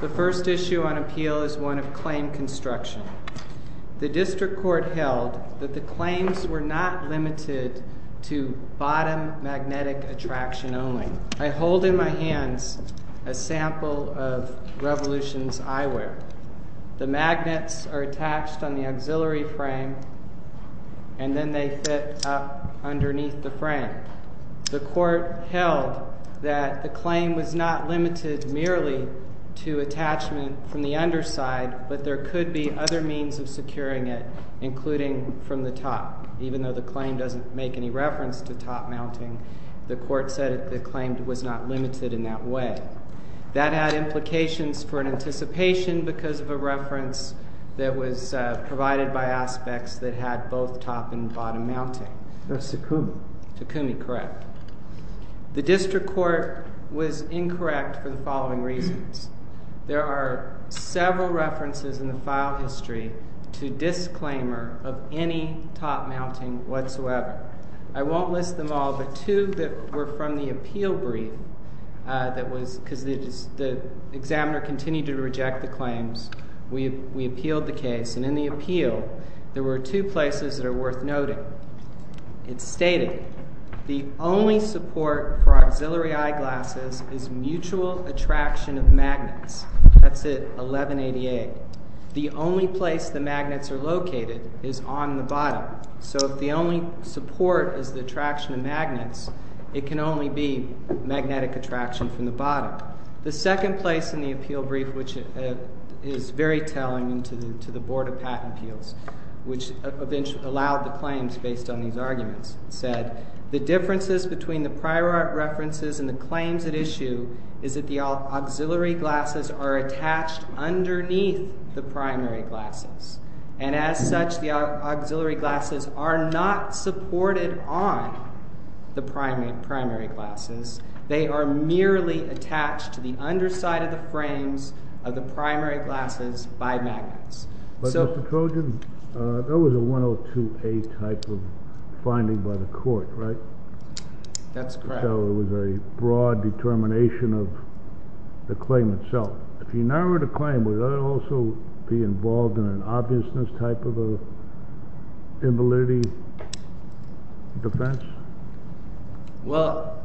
The first issue on appeal is one of claim construction. The District Court held that bottom magnetic attraction only. I hold in my hands a sample of Revolution's eyewear. The magnets are attached on the auxiliary frame and then they fit up underneath the frame. The court held that the claim was not limited merely to attachment from the underside, but there could be other means of securing it, including from the top, even though the claim doesn't make any reference to top mounting. The court said that the claim was not limited in that way. That had implications for an anticipation because of a reference that was provided by Aspex that had both top and bottom mounting. That's Takumi. Takumi, correct. The District Court was incorrect for the following reasons. There are several references in the file history to disclaimer of any top mounting whatsoever. I won't list them all, but two that were from the appeal brief that was because the examiner continued to reject the claims. We appealed the case and in the appeal there were two places that are worth noting. It stated, the only support for auxiliary eyeglasses is mutual attraction of magnets. That's at 1188. The only place the magnets are located is on the bottom. So if the only support is the attraction of magnets, it can only be magnetic attraction from the bottom. The second place in the appeal brief, which is very telling to the Board of Patent Appeals, which eventually allowed the claims based on these arguments, said, the differences between the prior references and the claims at issue is that the auxiliary glasses are attached underneath the primary glasses. And as such, the auxiliary glasses are not supported on the primary glasses. They are merely attached to the underside of the frames of the primary glasses by magnets. But, Mr. Trojan, that was a 102A type finding by the court, right? That's correct. So it was a broad determination of the claim itself. If you narrowed the claim, would that also be involved in an obviousness type of invalidity defense? Well,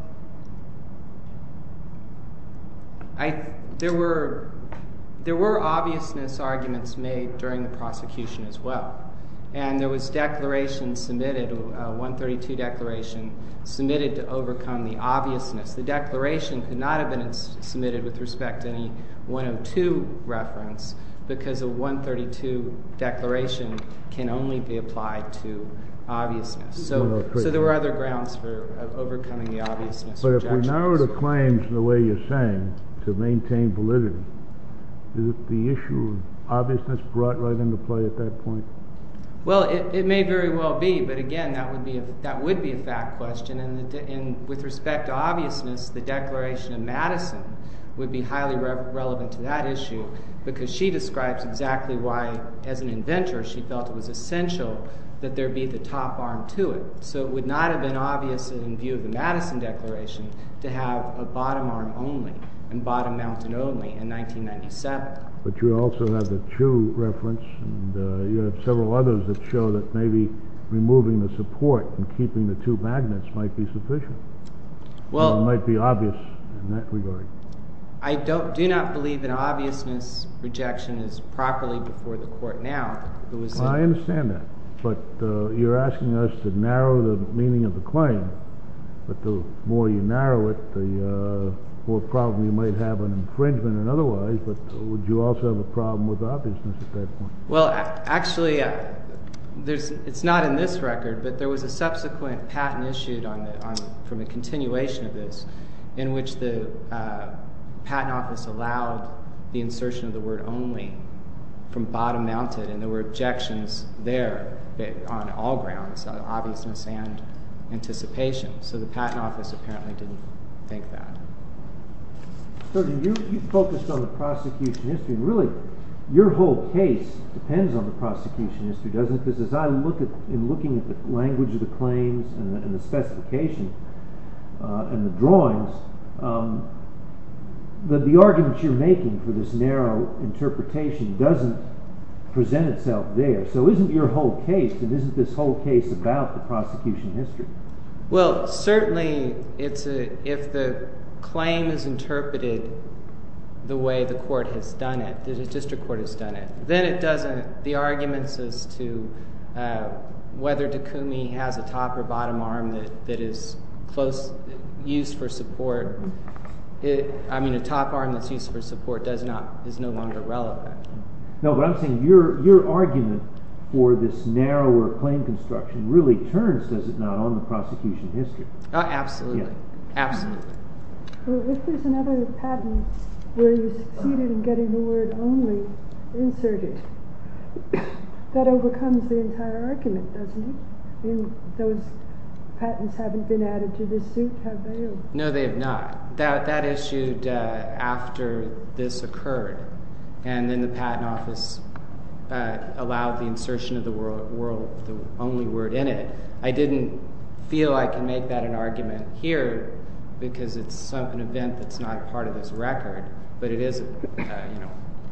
there were obviousness arguments made during the prosecution as well. And there was declaration submitted, a 132 declaration, submitted to overcome the obviousness. The declaration could not have been submitted with respect to any 102 reference because a 132 declaration can only be applied to obviousness. So there were other grounds for overcoming the obviousness. But if we narrow the claims the way you're saying, to maintain validity, is it the issue of obviousness brought right into play at that point? Well, it may very well be. But again, that would be a fact question. And with respect to obviousness, the declaration in Madison would be highly relevant to that issue because she describes exactly why, as an inventor, she felt it was essential that there be the top arm to it. So it would not have been obvious in view of the Madison declaration to have a bottom arm only, and bottom mounted only, in 1997. But you also have the Chu reference, and you have several others that show that maybe removing the support and keeping the two magnets might be sufficient. Well, it might be obvious in that regard. I do not believe an obviousness rejection is properly before the court now. Well, I understand that. But you're asking us to narrow the meaning of the claim. But the more you narrow it, the more problem you might have on infringement and otherwise. But would you also have a problem with obviousness at that point? Well, actually, it's not in this record, but there was a subsequent patent issued from a continuation of this, in which the patent office allowed the insertion of the word only from bottom mounted, and there were objections there on all grounds, on obviousness and anticipation. So the patent office apparently didn't think that. So you focused on the prosecution history. Really, your whole case depends on the prosecution history, doesn't it? Because as I look at, in looking at the language of the claims and the doesn't present itself there. So isn't your whole case and isn't this whole case about the prosecution history? Well, certainly it's if the claim is interpreted the way the court has done it, the district court has done it, then it doesn't. The arguments as to whether Dekoumi has a top or bottom arm that is close use for support. I mean, a top arm that's used for support is no longer relevant. No, but I'm saying your argument for this narrower claim construction really turns, does it not, on the prosecution history? Absolutely. Absolutely. If there's another patent where you succeeded in getting the word only inserted, that overcomes the entire argument, doesn't it? Those patents haven't been added to this suit, have they? No, they have not. That issued after this occurred and then the patent office allowed the insertion of the word world, the only word in it. I didn't feel I can make that an argument here because it's an event that's not a part of this record, but it is.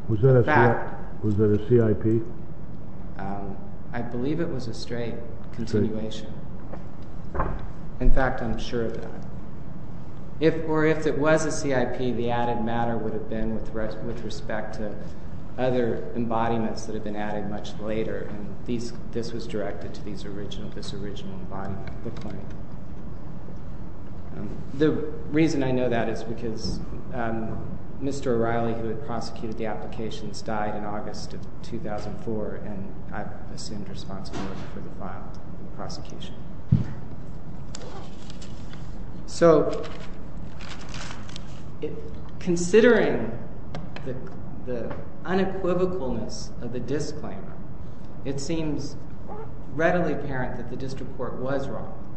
Was that a CIP? I believe it was a straight continuation. In fact, I'm sure of that. If or if it was a CIP, the added matter would have been with respect to other embodiments that have been added much later, and this was directed to this original embodiment of the claim. The reason I know that is because Mr. O'Reilly, who had prosecuted the applications, died in August of 2004, and I've assumed responsibility for the file and the prosecution. Considering the unequivocalness of the disclaimer, it seems readily apparent that the district court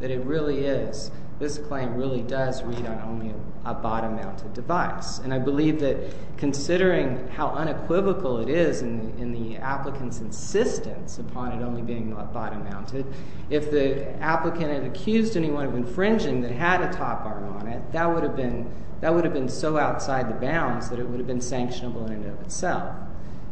that it really is, this claim really does read on only a bottom-mounted device. I believe that considering how unequivocal it is in the applicant's insistence upon it only being bottom-mounted, if the applicant had accused anyone of infringing that had a top arm on it, that would have been so outside the bounds that it would have been sanctionable in and of itself.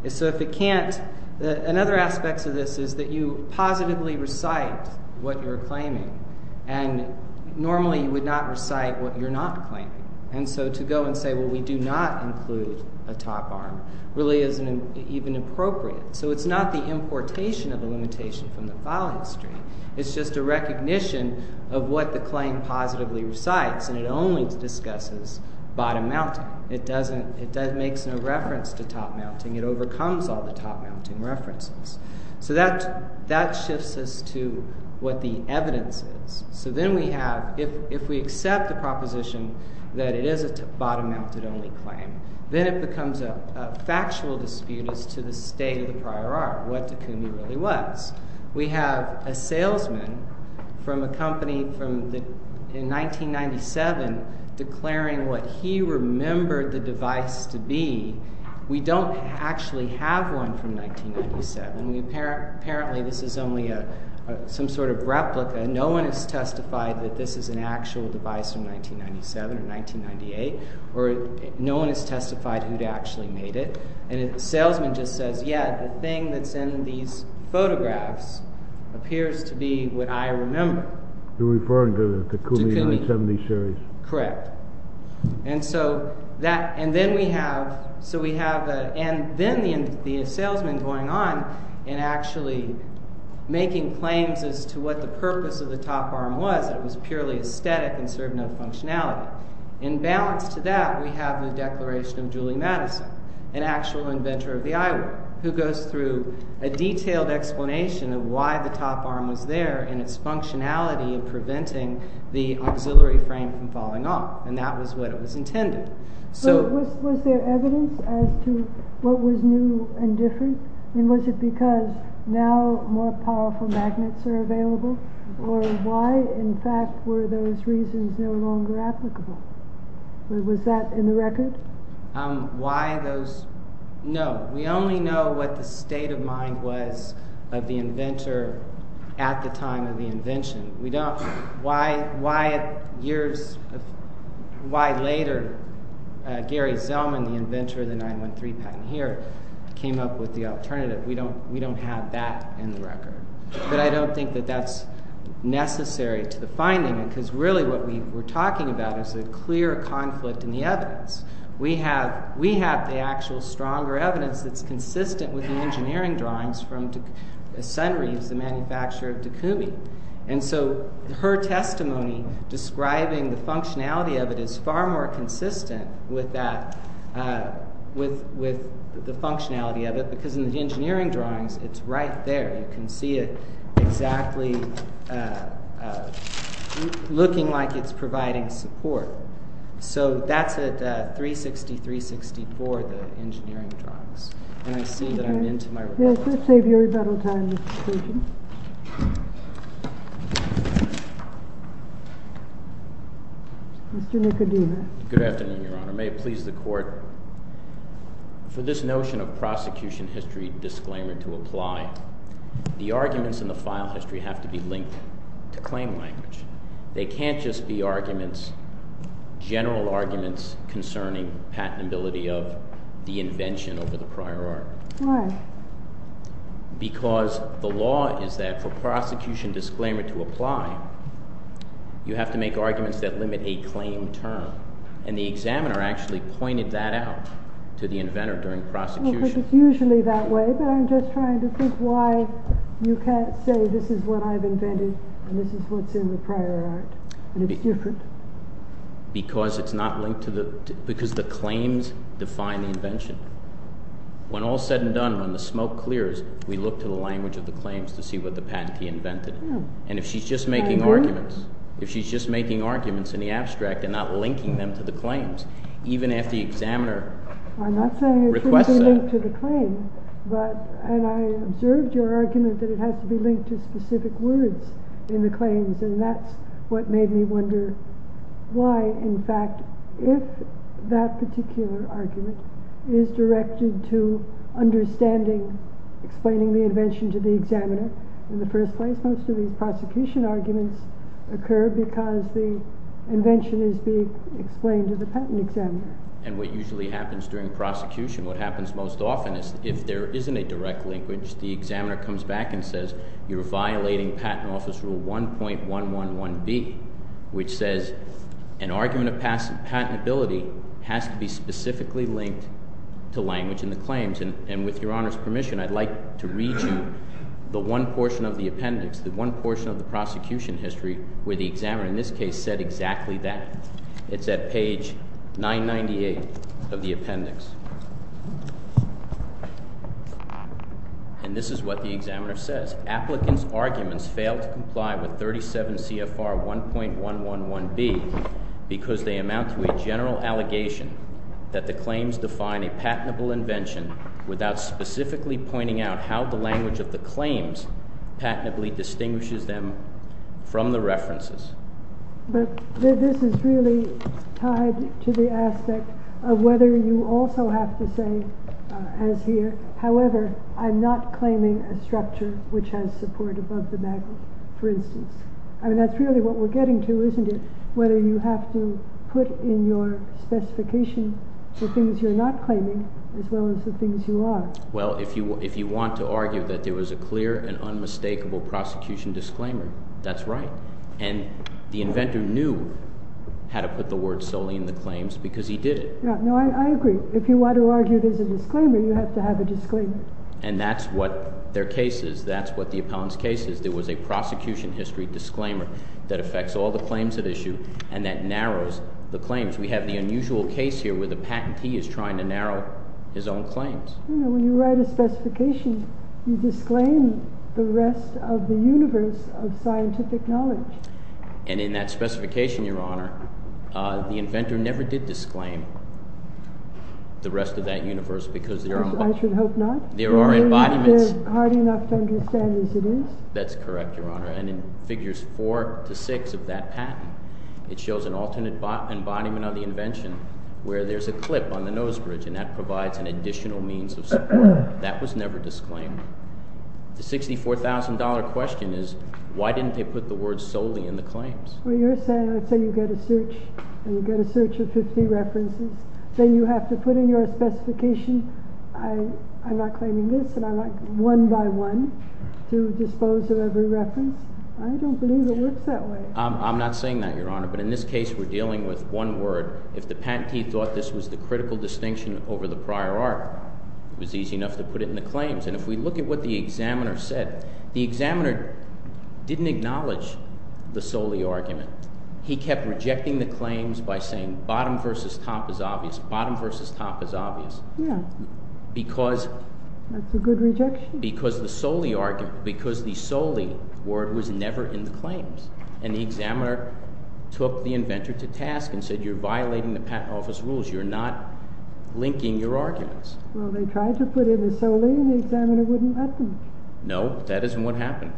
So if it can't, another aspect of this is that you positively recite what you're claiming, and normally you would not recite what you're not claiming. And so to go and say, well, we do not include a top arm really isn't even appropriate. So it's not the importation of the limitation from the filing history. It's just a recognition of what the claim positively recites, and it only discusses bottom-mounting. It makes no reference to top-mounting. It overcomes all the top-mounting references. So that shifts us to what the evidence is. So then we have, if we accept the proposition that it is a bottom-mounted only claim, then it becomes a factual dispute as to the state of the prior art, what Takumi really was. We have a salesman from a company in 1997 declaring what he remembered the device to be. We don't actually have one from 1997. Apparently this is only some sort of replica. No one has testified that this is an actual device from 1997 or 1998, or no one has testified who'd actually made it. And the thing that's in these photographs appears to be what I remember. You're referring to the Takumi 170 series. Correct. And then we have the salesman going on and actually making claims as to what the purpose of the top arm was. It was purely aesthetic and served no functionality. In balance to that, we have the declaration of Julie Madison, an actual inventor of the eyewear, who goes through a detailed explanation of why the top arm was there and its functionality of preventing the auxiliary frame from falling off. And that was what it was intended. So was there evidence as to what was new and different? And was it because now more powerful magnets are available? Or why, in fact, were those reasons no longer applicable? Was that in the record? No. We only know what the state of mind was of the inventor at the time of the invention. Why later Gary Zellman, the inventor of the 913 patent here, came up with the alternative. We don't have that in the record. But I don't think that that's necessary to the finding. Because really what we're talking about is a clear conflict in the evidence. We have the actual stronger evidence that's consistent with the engineering drawings from Sunreeves, the manufacturer of Takumi. And so her testimony describing the functionality of it is far more it's right there. You can see it exactly looking like it's providing support. So that's at 360-364, the engineering drawings. And I see that I'm into my report. Yes, let's save your rebuttal time, Mr. Cushing. Mr. Nicodema. Good afternoon, Your Honor. May it please the court, for this notion of prosecution history disclaimer to apply, the arguments in the file history have to be linked to claim language. They can't just be arguments, general arguments concerning patentability of the invention over the prior art. Because the law is that for prosecution disclaimer to apply, you have to make arguments that limit a claim term. And the examiner actually pointed that out to the inventor during prosecution. It's usually that way, but I'm just trying to think why you can't say this is what I've invented, and this is what's in the prior art. And it's different. Because it's not linked to the, because the claims define the invention. When all's said and done, when the smoke clears, we look to the language of the claims to see what the patentee invented. And if she's just making arguments, if she's just making arguments in the abstract and not linking them to the claims, even if the examiner requests that. I'm not saying it should be linked to the claim, but, and I observed your argument that it has to be linked to specific words in the claims, and that's what made me wonder why, in fact, if that particular argument is directed to understanding, explaining the invention to the examiner in the first place, most of these prosecution arguments occur because the invention is being explained to the patent examiner. And what usually happens during prosecution, what happens most often is if there isn't a direct link, which the examiner comes back and says, you're violating patent office rule 1.111B, which says an argument of patentability has to be specifically linked to language in the claims. And with your Honor's permission, I'd like to read you the one portion of the appendix, the one portion of the prosecution history where the examiner in this case said exactly that. It's at page 998 of the appendix. And this is what the examiner says. Applicant's arguments fail to comply with 37 CFR 1.111B because they amount to a general allegation that the claims define a patentable invention without specifically pointing out how the This is really tied to the aspect of whether you also have to say, as here, however, I'm not claiming a structure which has support above the background, for instance. I mean, that's really what we're getting to, isn't it? Whether you have to put in your specification the things you're not claiming, as well as the things you are. Well, if you want to argue that there was a clear and unmistakable prosecution disclaimer, that's right. And the inventor knew how to put the word solely in the claims because he did it. Yeah, no, I agree. If you want to argue there's a disclaimer, you have to have a disclaimer. And that's what their case is. That's what the appellant's case is. There was a prosecution history disclaimer that affects all the claims at issue and that narrows the claims. We have the unusual case here where the patentee is trying to narrow his own claims. When you write a specification, you disclaim the rest of the universe of scientific knowledge. And in that specification, Your Honor, the inventor never did disclaim the rest of that universe because there are... I should hope not. There are embodiments. They're hard enough to understand as it is. That's correct, Your Honor. And in figures four to six of that patent, it shows an alternate embodiment of the invention where there's a clip on the nose bridge and that provides an additional means of support. That was never disclaimed. The $64,000 question is, why didn't they put the word solely in the claims? Well, you're saying, let's say you get a search and you get a search of 50 references, then you have to put in your specification. I'm not claiming this and I like one by one to dispose of every reference. I don't believe it works that way. I'm not saying that, Your Honor. But in this case, we're dealing with one word. If the was easy enough to put it in the claims. And if we look at what the examiner said, the examiner didn't acknowledge the solely argument. He kept rejecting the claims by saying bottom versus top is obvious, bottom versus top is obvious. Yeah. Because... That's a good rejection. Because the solely argument, because the solely word was never in the claims. And the examiner took the inventor to task and said, you're violating the patent office rules. You're not linking your arguments. Well, they tried to put in the solely and the examiner wouldn't let them. No, that isn't what happened.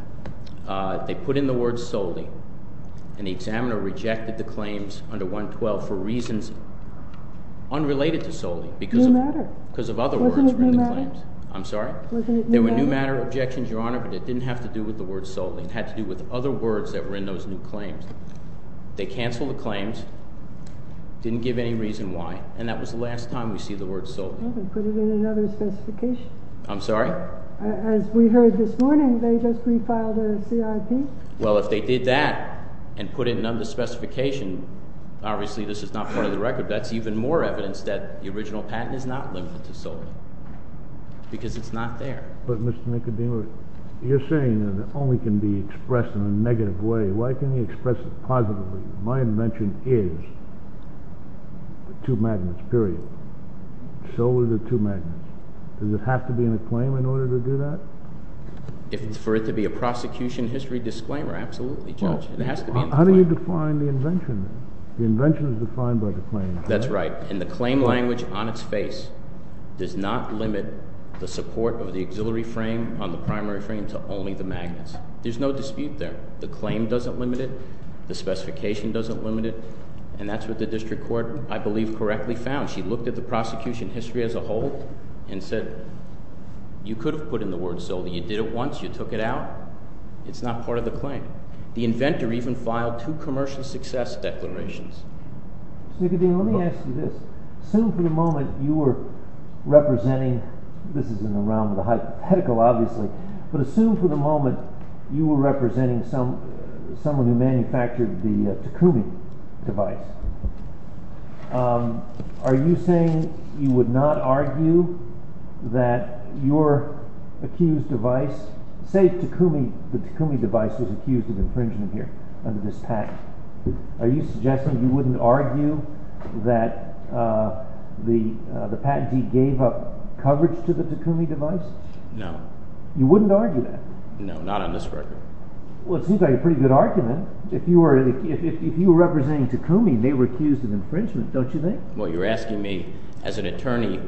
They put in the word solely and the examiner rejected the claims under 112 for reasons unrelated to solely because of... Because of other words. Wasn't it new matter? I'm sorry? Wasn't it new matter? There were new matter objections, Your Honor, but it didn't have to do with the word solely. It had to do with other words that were in those new claims. They canceled the claims, didn't give any reason why. And that was the last time we see the word solely. Well, they put it in another specification. I'm sorry? As we heard this morning, they just refiled a CIP. Well, if they did that and put it in another specification, obviously, this is not part of the record. That's even more evidence that the original patent is not limited to solely because it's not there. But Mr. McAdee, you're saying that it only can be expressed in a negative way. Why can express it positively? My invention is the two magnets, period. So are the two magnets. Does it have to be in a claim in order to do that? If it's for it to be a prosecution history disclaimer, absolutely, Judge. Well, how do you define the invention? The invention is defined by the claim. That's right. And the claim language on its face does not limit the support of the auxiliary frame on the primary frame to only the magnets. There's no dispute there. The claim doesn't limit it. The specification doesn't limit it. And that's what the district court, I believe, correctly found. She looked at the prosecution history as a whole and said, you could have put in the word solely. You did it once. You took it out. It's not part of the claim. The inventor even filed two commercial success declarations. Mr. McAdee, let me ask you this. Assume for the moment you were representing, this is in the realm of the hypothetical, obviously, but assume for the moment you were representing someone who manufactured the Takumi device. Are you saying you would not argue that your accused device, say Takumi, the Takumi device was accused of infringement here under this patent. Are you suggesting you wouldn't argue that the patentee gave up coverage to the Takumi device? No. You wouldn't argue that? No, not on this record. Well, it seems like a pretty good argument. If you were representing Takumi, they were accused of infringement, don't you think? Well, you're asking me, as an attorney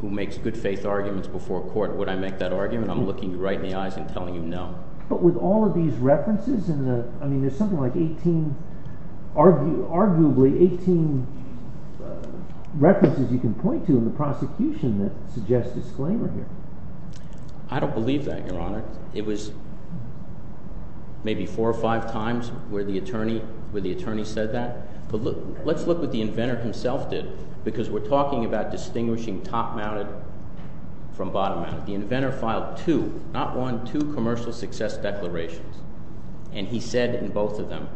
who makes good faith arguments before court, would I make that argument? I'm looking you right in the eyes and telling you no. But with all of these references in the, I mean, there's something like 18, arguably 18 references you can point to in the prosecution that suggests disclaimer here. I don't believe that, Your Honor. It was maybe four or five times where the attorney said that. But let's look what the inventor himself did, because we're talking about distinguishing top-mounted from bottom-mounted. The inventor filed two, not one, two commercial success declarations. And he said in both of them,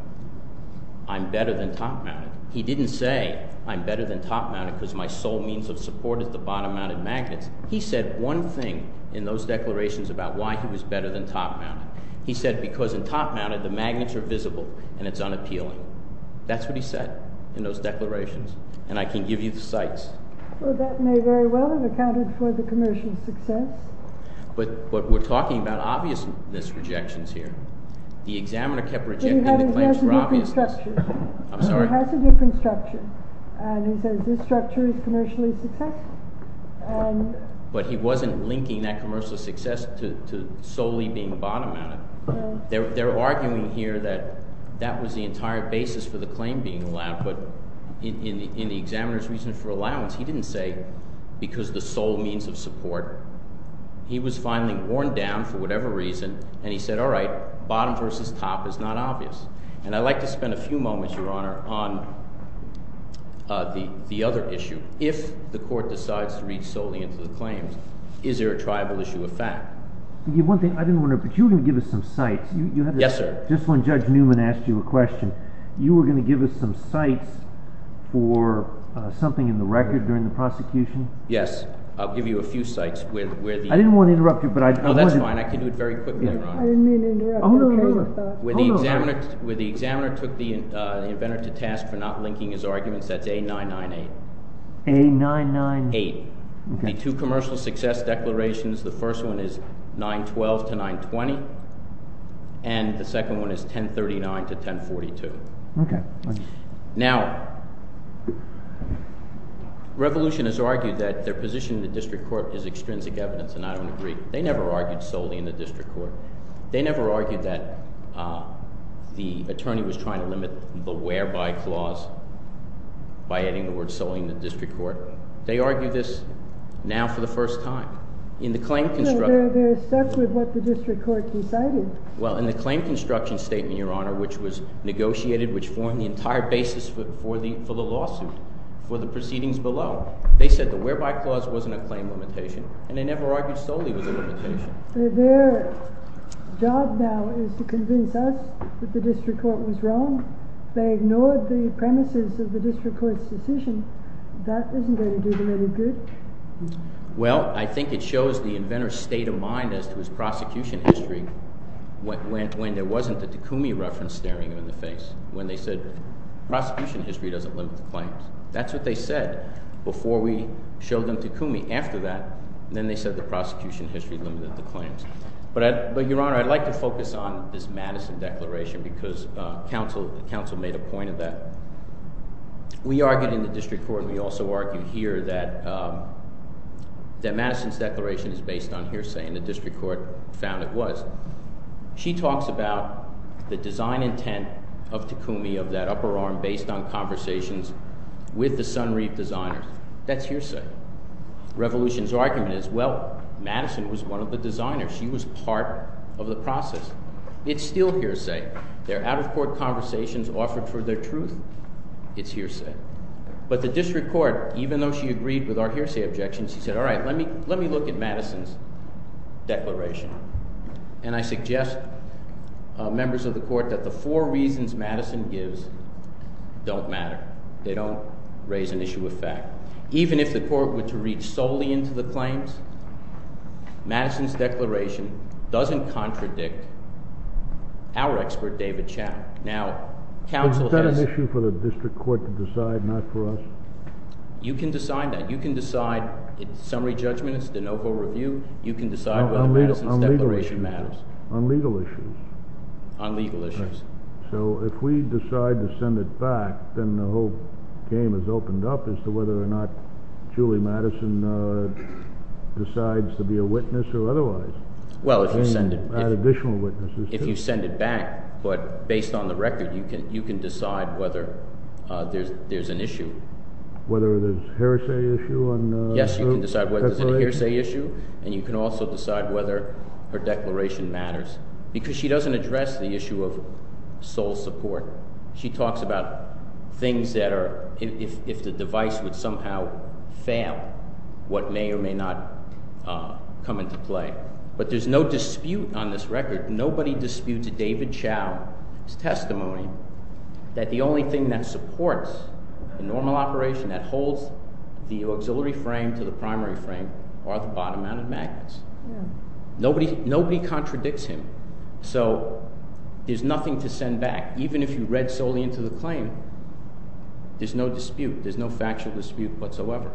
I'm better than top-mounted. He didn't say, I'm better than top-mounted because my sole means of support is the bottom-mounted magnets. He said one thing in those declarations about why he was better than top-mounted. He said, because in top-mounted, the magnets are visible and it's unappealing. That's what he said in those declarations. And I can give you the cites. Well, that may very well have accounted for the commercial success. But we're talking about obviousness rejections here. The examiner kept rejecting the claims for obviousness. He has a different structure. And he says this structure is commercially successful. But he wasn't linking that commercial success to solely being bottom-mounted. They're arguing here that that was the entire basis for the claim being allowed. But in the examiner's reason for allowance, he didn't say because the sole means of support. He was finally worn down for whatever reason. And he said, all right, bottom versus top is not obvious. And I'd like to spend a few moments, Your Honor, on the other issue. If the court decides to read solely into the claims, is there a triable issue of fact? I didn't want to interrupt, but you were going to give us some cites. Yes, sir. Just when Judge Newman asked you a question, you were going to give us some cites for something in the record during the prosecution? Yes. I'll give you a few cites. I didn't want to interrupt you. Oh, that's fine. I can do it very quickly, Your Honor. I didn't mean to interrupt you. Oh, no, no, no. When the examiner took the inventor to task for not linking his arguments, that's A-998. A-99... Eight. The two commercial success declarations, the first one is 9-12 to 9-20. And the second one is 10-39 to 10-42. Now, Revolution has argued that their position in the district court is extrinsic evidence. And I don't agree. They never argued solely in the district court. They never argued that the attorney was trying to limit the whereby clause by adding the word solely in the district court. They argue this now for the first time. In the claim construction... They're stuck with what the district court decided. Well, in the claim construction statement, Your Honor, which was negotiated, which formed the entire basis for the lawsuit, for the proceedings below, they said the whereby clause wasn't a claim limitation, and they never argued solely with the limitation. Job now is to convince us that the district court was wrong. They ignored the premises of the district court's decision. That isn't going to do them any good. Well, I think it shows the inventor's state of mind as to his prosecution history when there wasn't the Takumi reference staring him in the face, when they said, prosecution history doesn't limit the claims. That's what they said before we showed them Takumi. After that, then they said the prosecution history limited the claims. But, Your Honor, I'd like to focus on this Madison declaration because counsel made a point of that. We argued in the district court, and we also argued here, that Madison's declaration is based on hearsay, and the district court found it was. She talks about the design intent of Takumi, of that upper arm based on conversations with the Sunreef designers. That's hearsay. Revolution's argument is, well, Madison was one of the designers. She was part of the process. It's still hearsay. They're out-of-court conversations offered for their truth. It's hearsay. But the district court, even though she agreed with our hearsay objection, she said, all right, let me look at Madison's declaration. And I suggest, members of the court, that the four reasons Madison gives don't matter. They don't raise an issue of fact. Even if the court were to reach solely into the claims, Madison's declaration doesn't contradict our expert, David Chow. Now, counsel has- Is that an issue for the district court to decide, not for us? You can decide that. You can decide. It's summary judgment. It's the no-hold review. You can decide whether Madison's declaration matters. On legal issues? On legal issues. So, if we decide to send it back, then the whole game is opened up as to whether or not Julie Madison decides to be a witness or otherwise. Well, if you send it- Add additional witnesses, too. If you send it back, but based on the record, you can decide whether there's an issue. Whether there's a hearsay issue on her declaration? Yes, you can decide whether there's a hearsay issue, and you can also decide whether her declaration matters. Because she doesn't address the issue of sole support. She talks about things that are, if the device would somehow fail, what may or may not come into play. But there's no dispute on this record. Nobody disputes David Chow's testimony that the only thing that supports the normal operation that holds the auxiliary frame to the primary frame are the bottom-mounted magnets. Nobody contradicts him. So, there's nothing to send back. Even if you read solely into the claim, there's no dispute. There's no factual dispute whatsoever.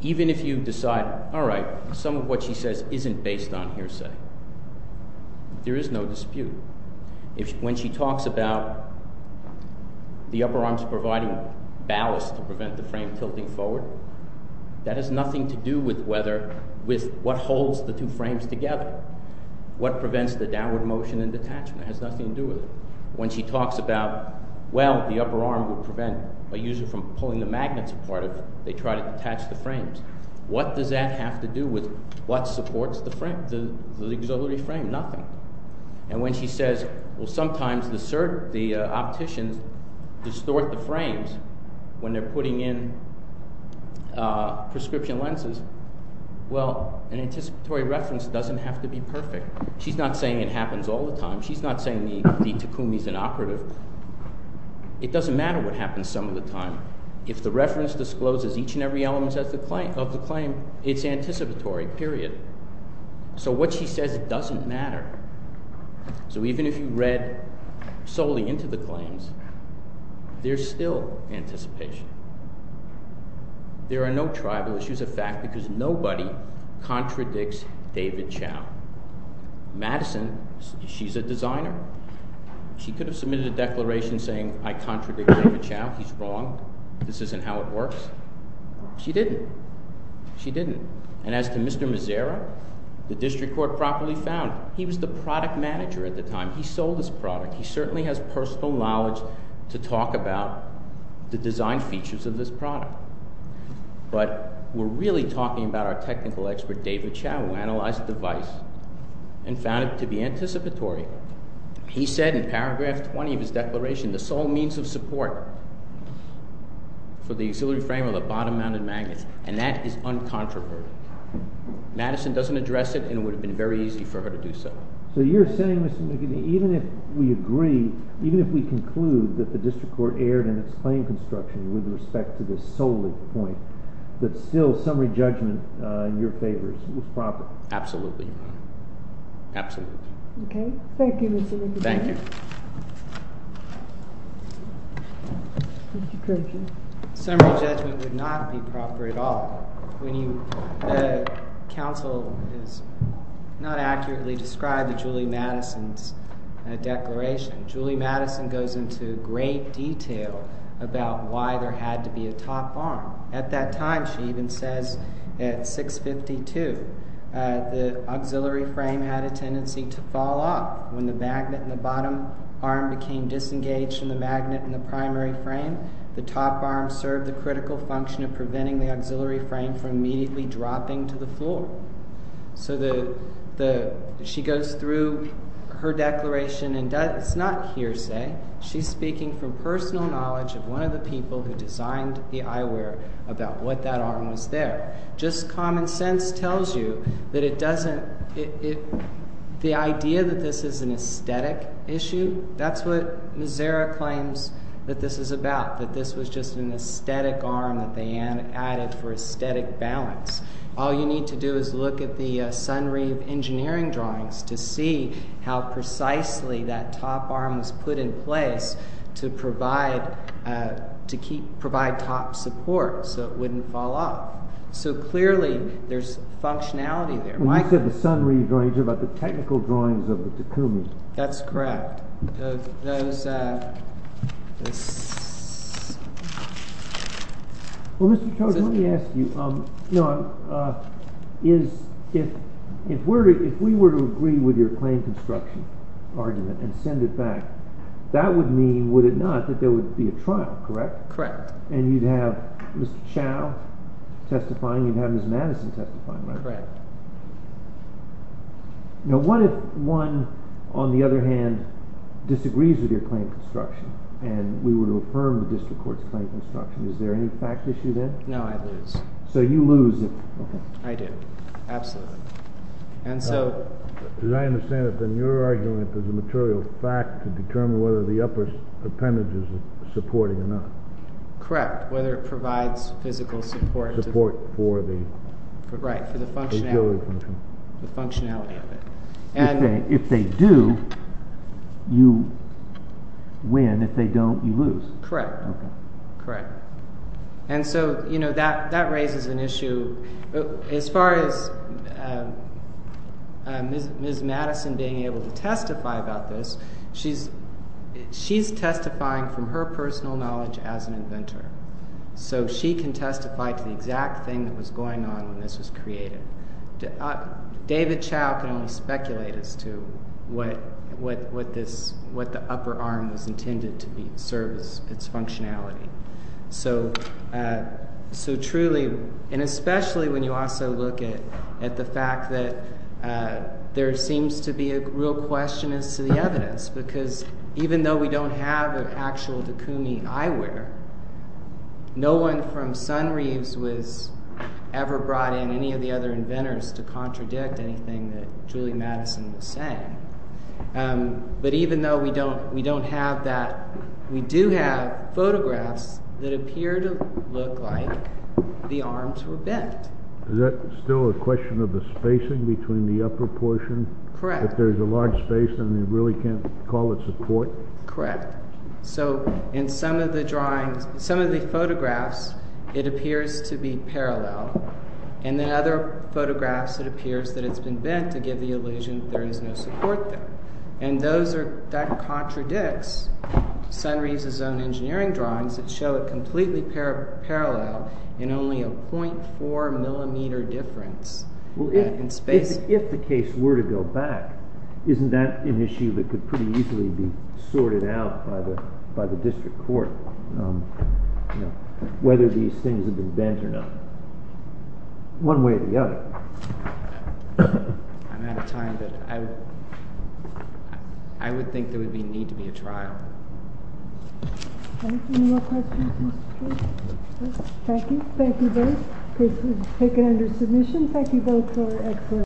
Even if you decide, all right, some of what she says isn't based on hearsay, there is no dispute. When she talks about the upper arms providing ballast to prevent the frame tilting forward, that has nothing to do with whether- with what holds the two frames together. What prevents the downward motion and detachment has nothing to do with it. When she talks about, well, the upper arm will prevent a user from pulling the magnets apart if they try to attach the frames. What does that have to do with what supports the frame, the auxiliary frame? Nothing. And when she says, well, sometimes the opticians distort the frames when they're putting in prescription lenses. Well, an anticipatory reference doesn't have to be perfect. She's not saying it happens all the time. She's not saying the Takumi's inoperative. It doesn't matter what happens some of the time. If the reference discloses each and every element of the claim, it's anticipatory, period. So what she says doesn't matter. So even if you read solely into the claims, there's still anticipation. There are no tribal issues of fact because nobody contradicts David Chow. Madison, she's a designer. She could have submitted a declaration saying, I contradict David Chow. He's wrong. This isn't how it works. She didn't. She didn't. And as to Mr. Mazera, the district court properly found he was the product manager at the time. He sold this product. He certainly has personal knowledge to talk about the design features of this product. But we're really talking about our technical expert, David Chow, who analyzed the device and found it to be anticipatory. He said in paragraph 20 of his declaration, the sole means of support for the auxiliary frame of the bottom-mounted magnets. And that is uncontroverted. Madison doesn't address it and it would have been very easy for her to do so. So you're saying, Mr. McKinney, even if we agree, even if we conclude that the district court erred in its claim construction with respect to this solely point, that still summary judgment in your favor is proper? Absolutely, Your Honor. Absolutely. Okay. Thank you, Mr. McKinney. Thank you. Summary judgment would not be proper at all. Council has not accurately described Julie Madison's declaration. Julie Madison goes into great detail about why there had to be a top arm. At that time, she even says at 652, the auxiliary frame had a tendency to fall off when the magnet in the bottom arm became disengaged from the magnet in the primary frame. The top arm served the critical function of preventing the auxiliary frame from immediately dropping to the floor. So she goes through her declaration and it's not hearsay. She's speaking from personal knowledge of one of the people who designed the eyewear about what that arm was there. Just common sense tells you that it doesn't... The idea that this is an aesthetic issue, that's what Mazzara claims that this is about, that this was just an aesthetic arm that they added for aesthetic balance. All you need to do is look at the Sunreef engineering drawings to see how precisely that top arm was put in place to provide top support so it wouldn't fall off. So clearly there's functionality there. When you said the Sunreef drawings, you're talking about the technical drawings of the Takumis. That's correct. Well, Mr. Chodes, let me ask you, if we were to agree with your claim construction argument and send it back, that would mean, would it not, that there would be a trial, correct? Correct. And you'd have Mr. Chow testifying, you'd have Ms. Madison testifying, right? Correct. Now, what if one, on the other hand, disagrees with your claim construction and we were to affirm the district court's claim construction? Is there any fact issue then? No, I'd lose. So you lose if... Okay. I do, absolutely. And so... As I understand it, then your argument is a material fact to determine whether the upper appendages are supporting or not. Correct. Whether it provides physical support. Support for the... Right, for the functionality of it. If they do, you win. If they don't, you lose. Correct. Correct. And so, you know, that raises an issue. As far as Ms. Madison being able to testify about this, she's testifying from her personal knowledge as an inventor. So she can testify to the exact thing that was going on when this was created. David Chow can only speculate as to what the upper arm was intended to be, serves its functionality. So truly, and especially when you also look at the fact that there seems to be a real question as to the evidence, because even though we don't have an actual Dekoumi eyewear, no one from Sunreeves was ever brought in, any of the other inventors, to contradict anything that Julie Madison was saying. But even though we don't have that, we do have photographs that appear to look like the arms were bent. Is that still a question of the spacing between the upper portion? Correct. If there's a large space, then you really can't call it support? Correct. So in some of the drawings, some of the photographs, it appears to be parallel. In the other photographs, it appears that it's been bent to give the illusion that there is no support there. And that contradicts Sunreeves' own engineering drawings that show it completely parallel in only a 0.4 millimeter difference in space. If the case were to go back, isn't that an issue that could pretty easily be sorted out by the district court? Whether these things have been bent or not. One way or the other. But I'm out of time, but I would think there would be need to be a trial. Any more questions? Thank you. Thank you both. Case is taken under submission. Thank you both for excellent work.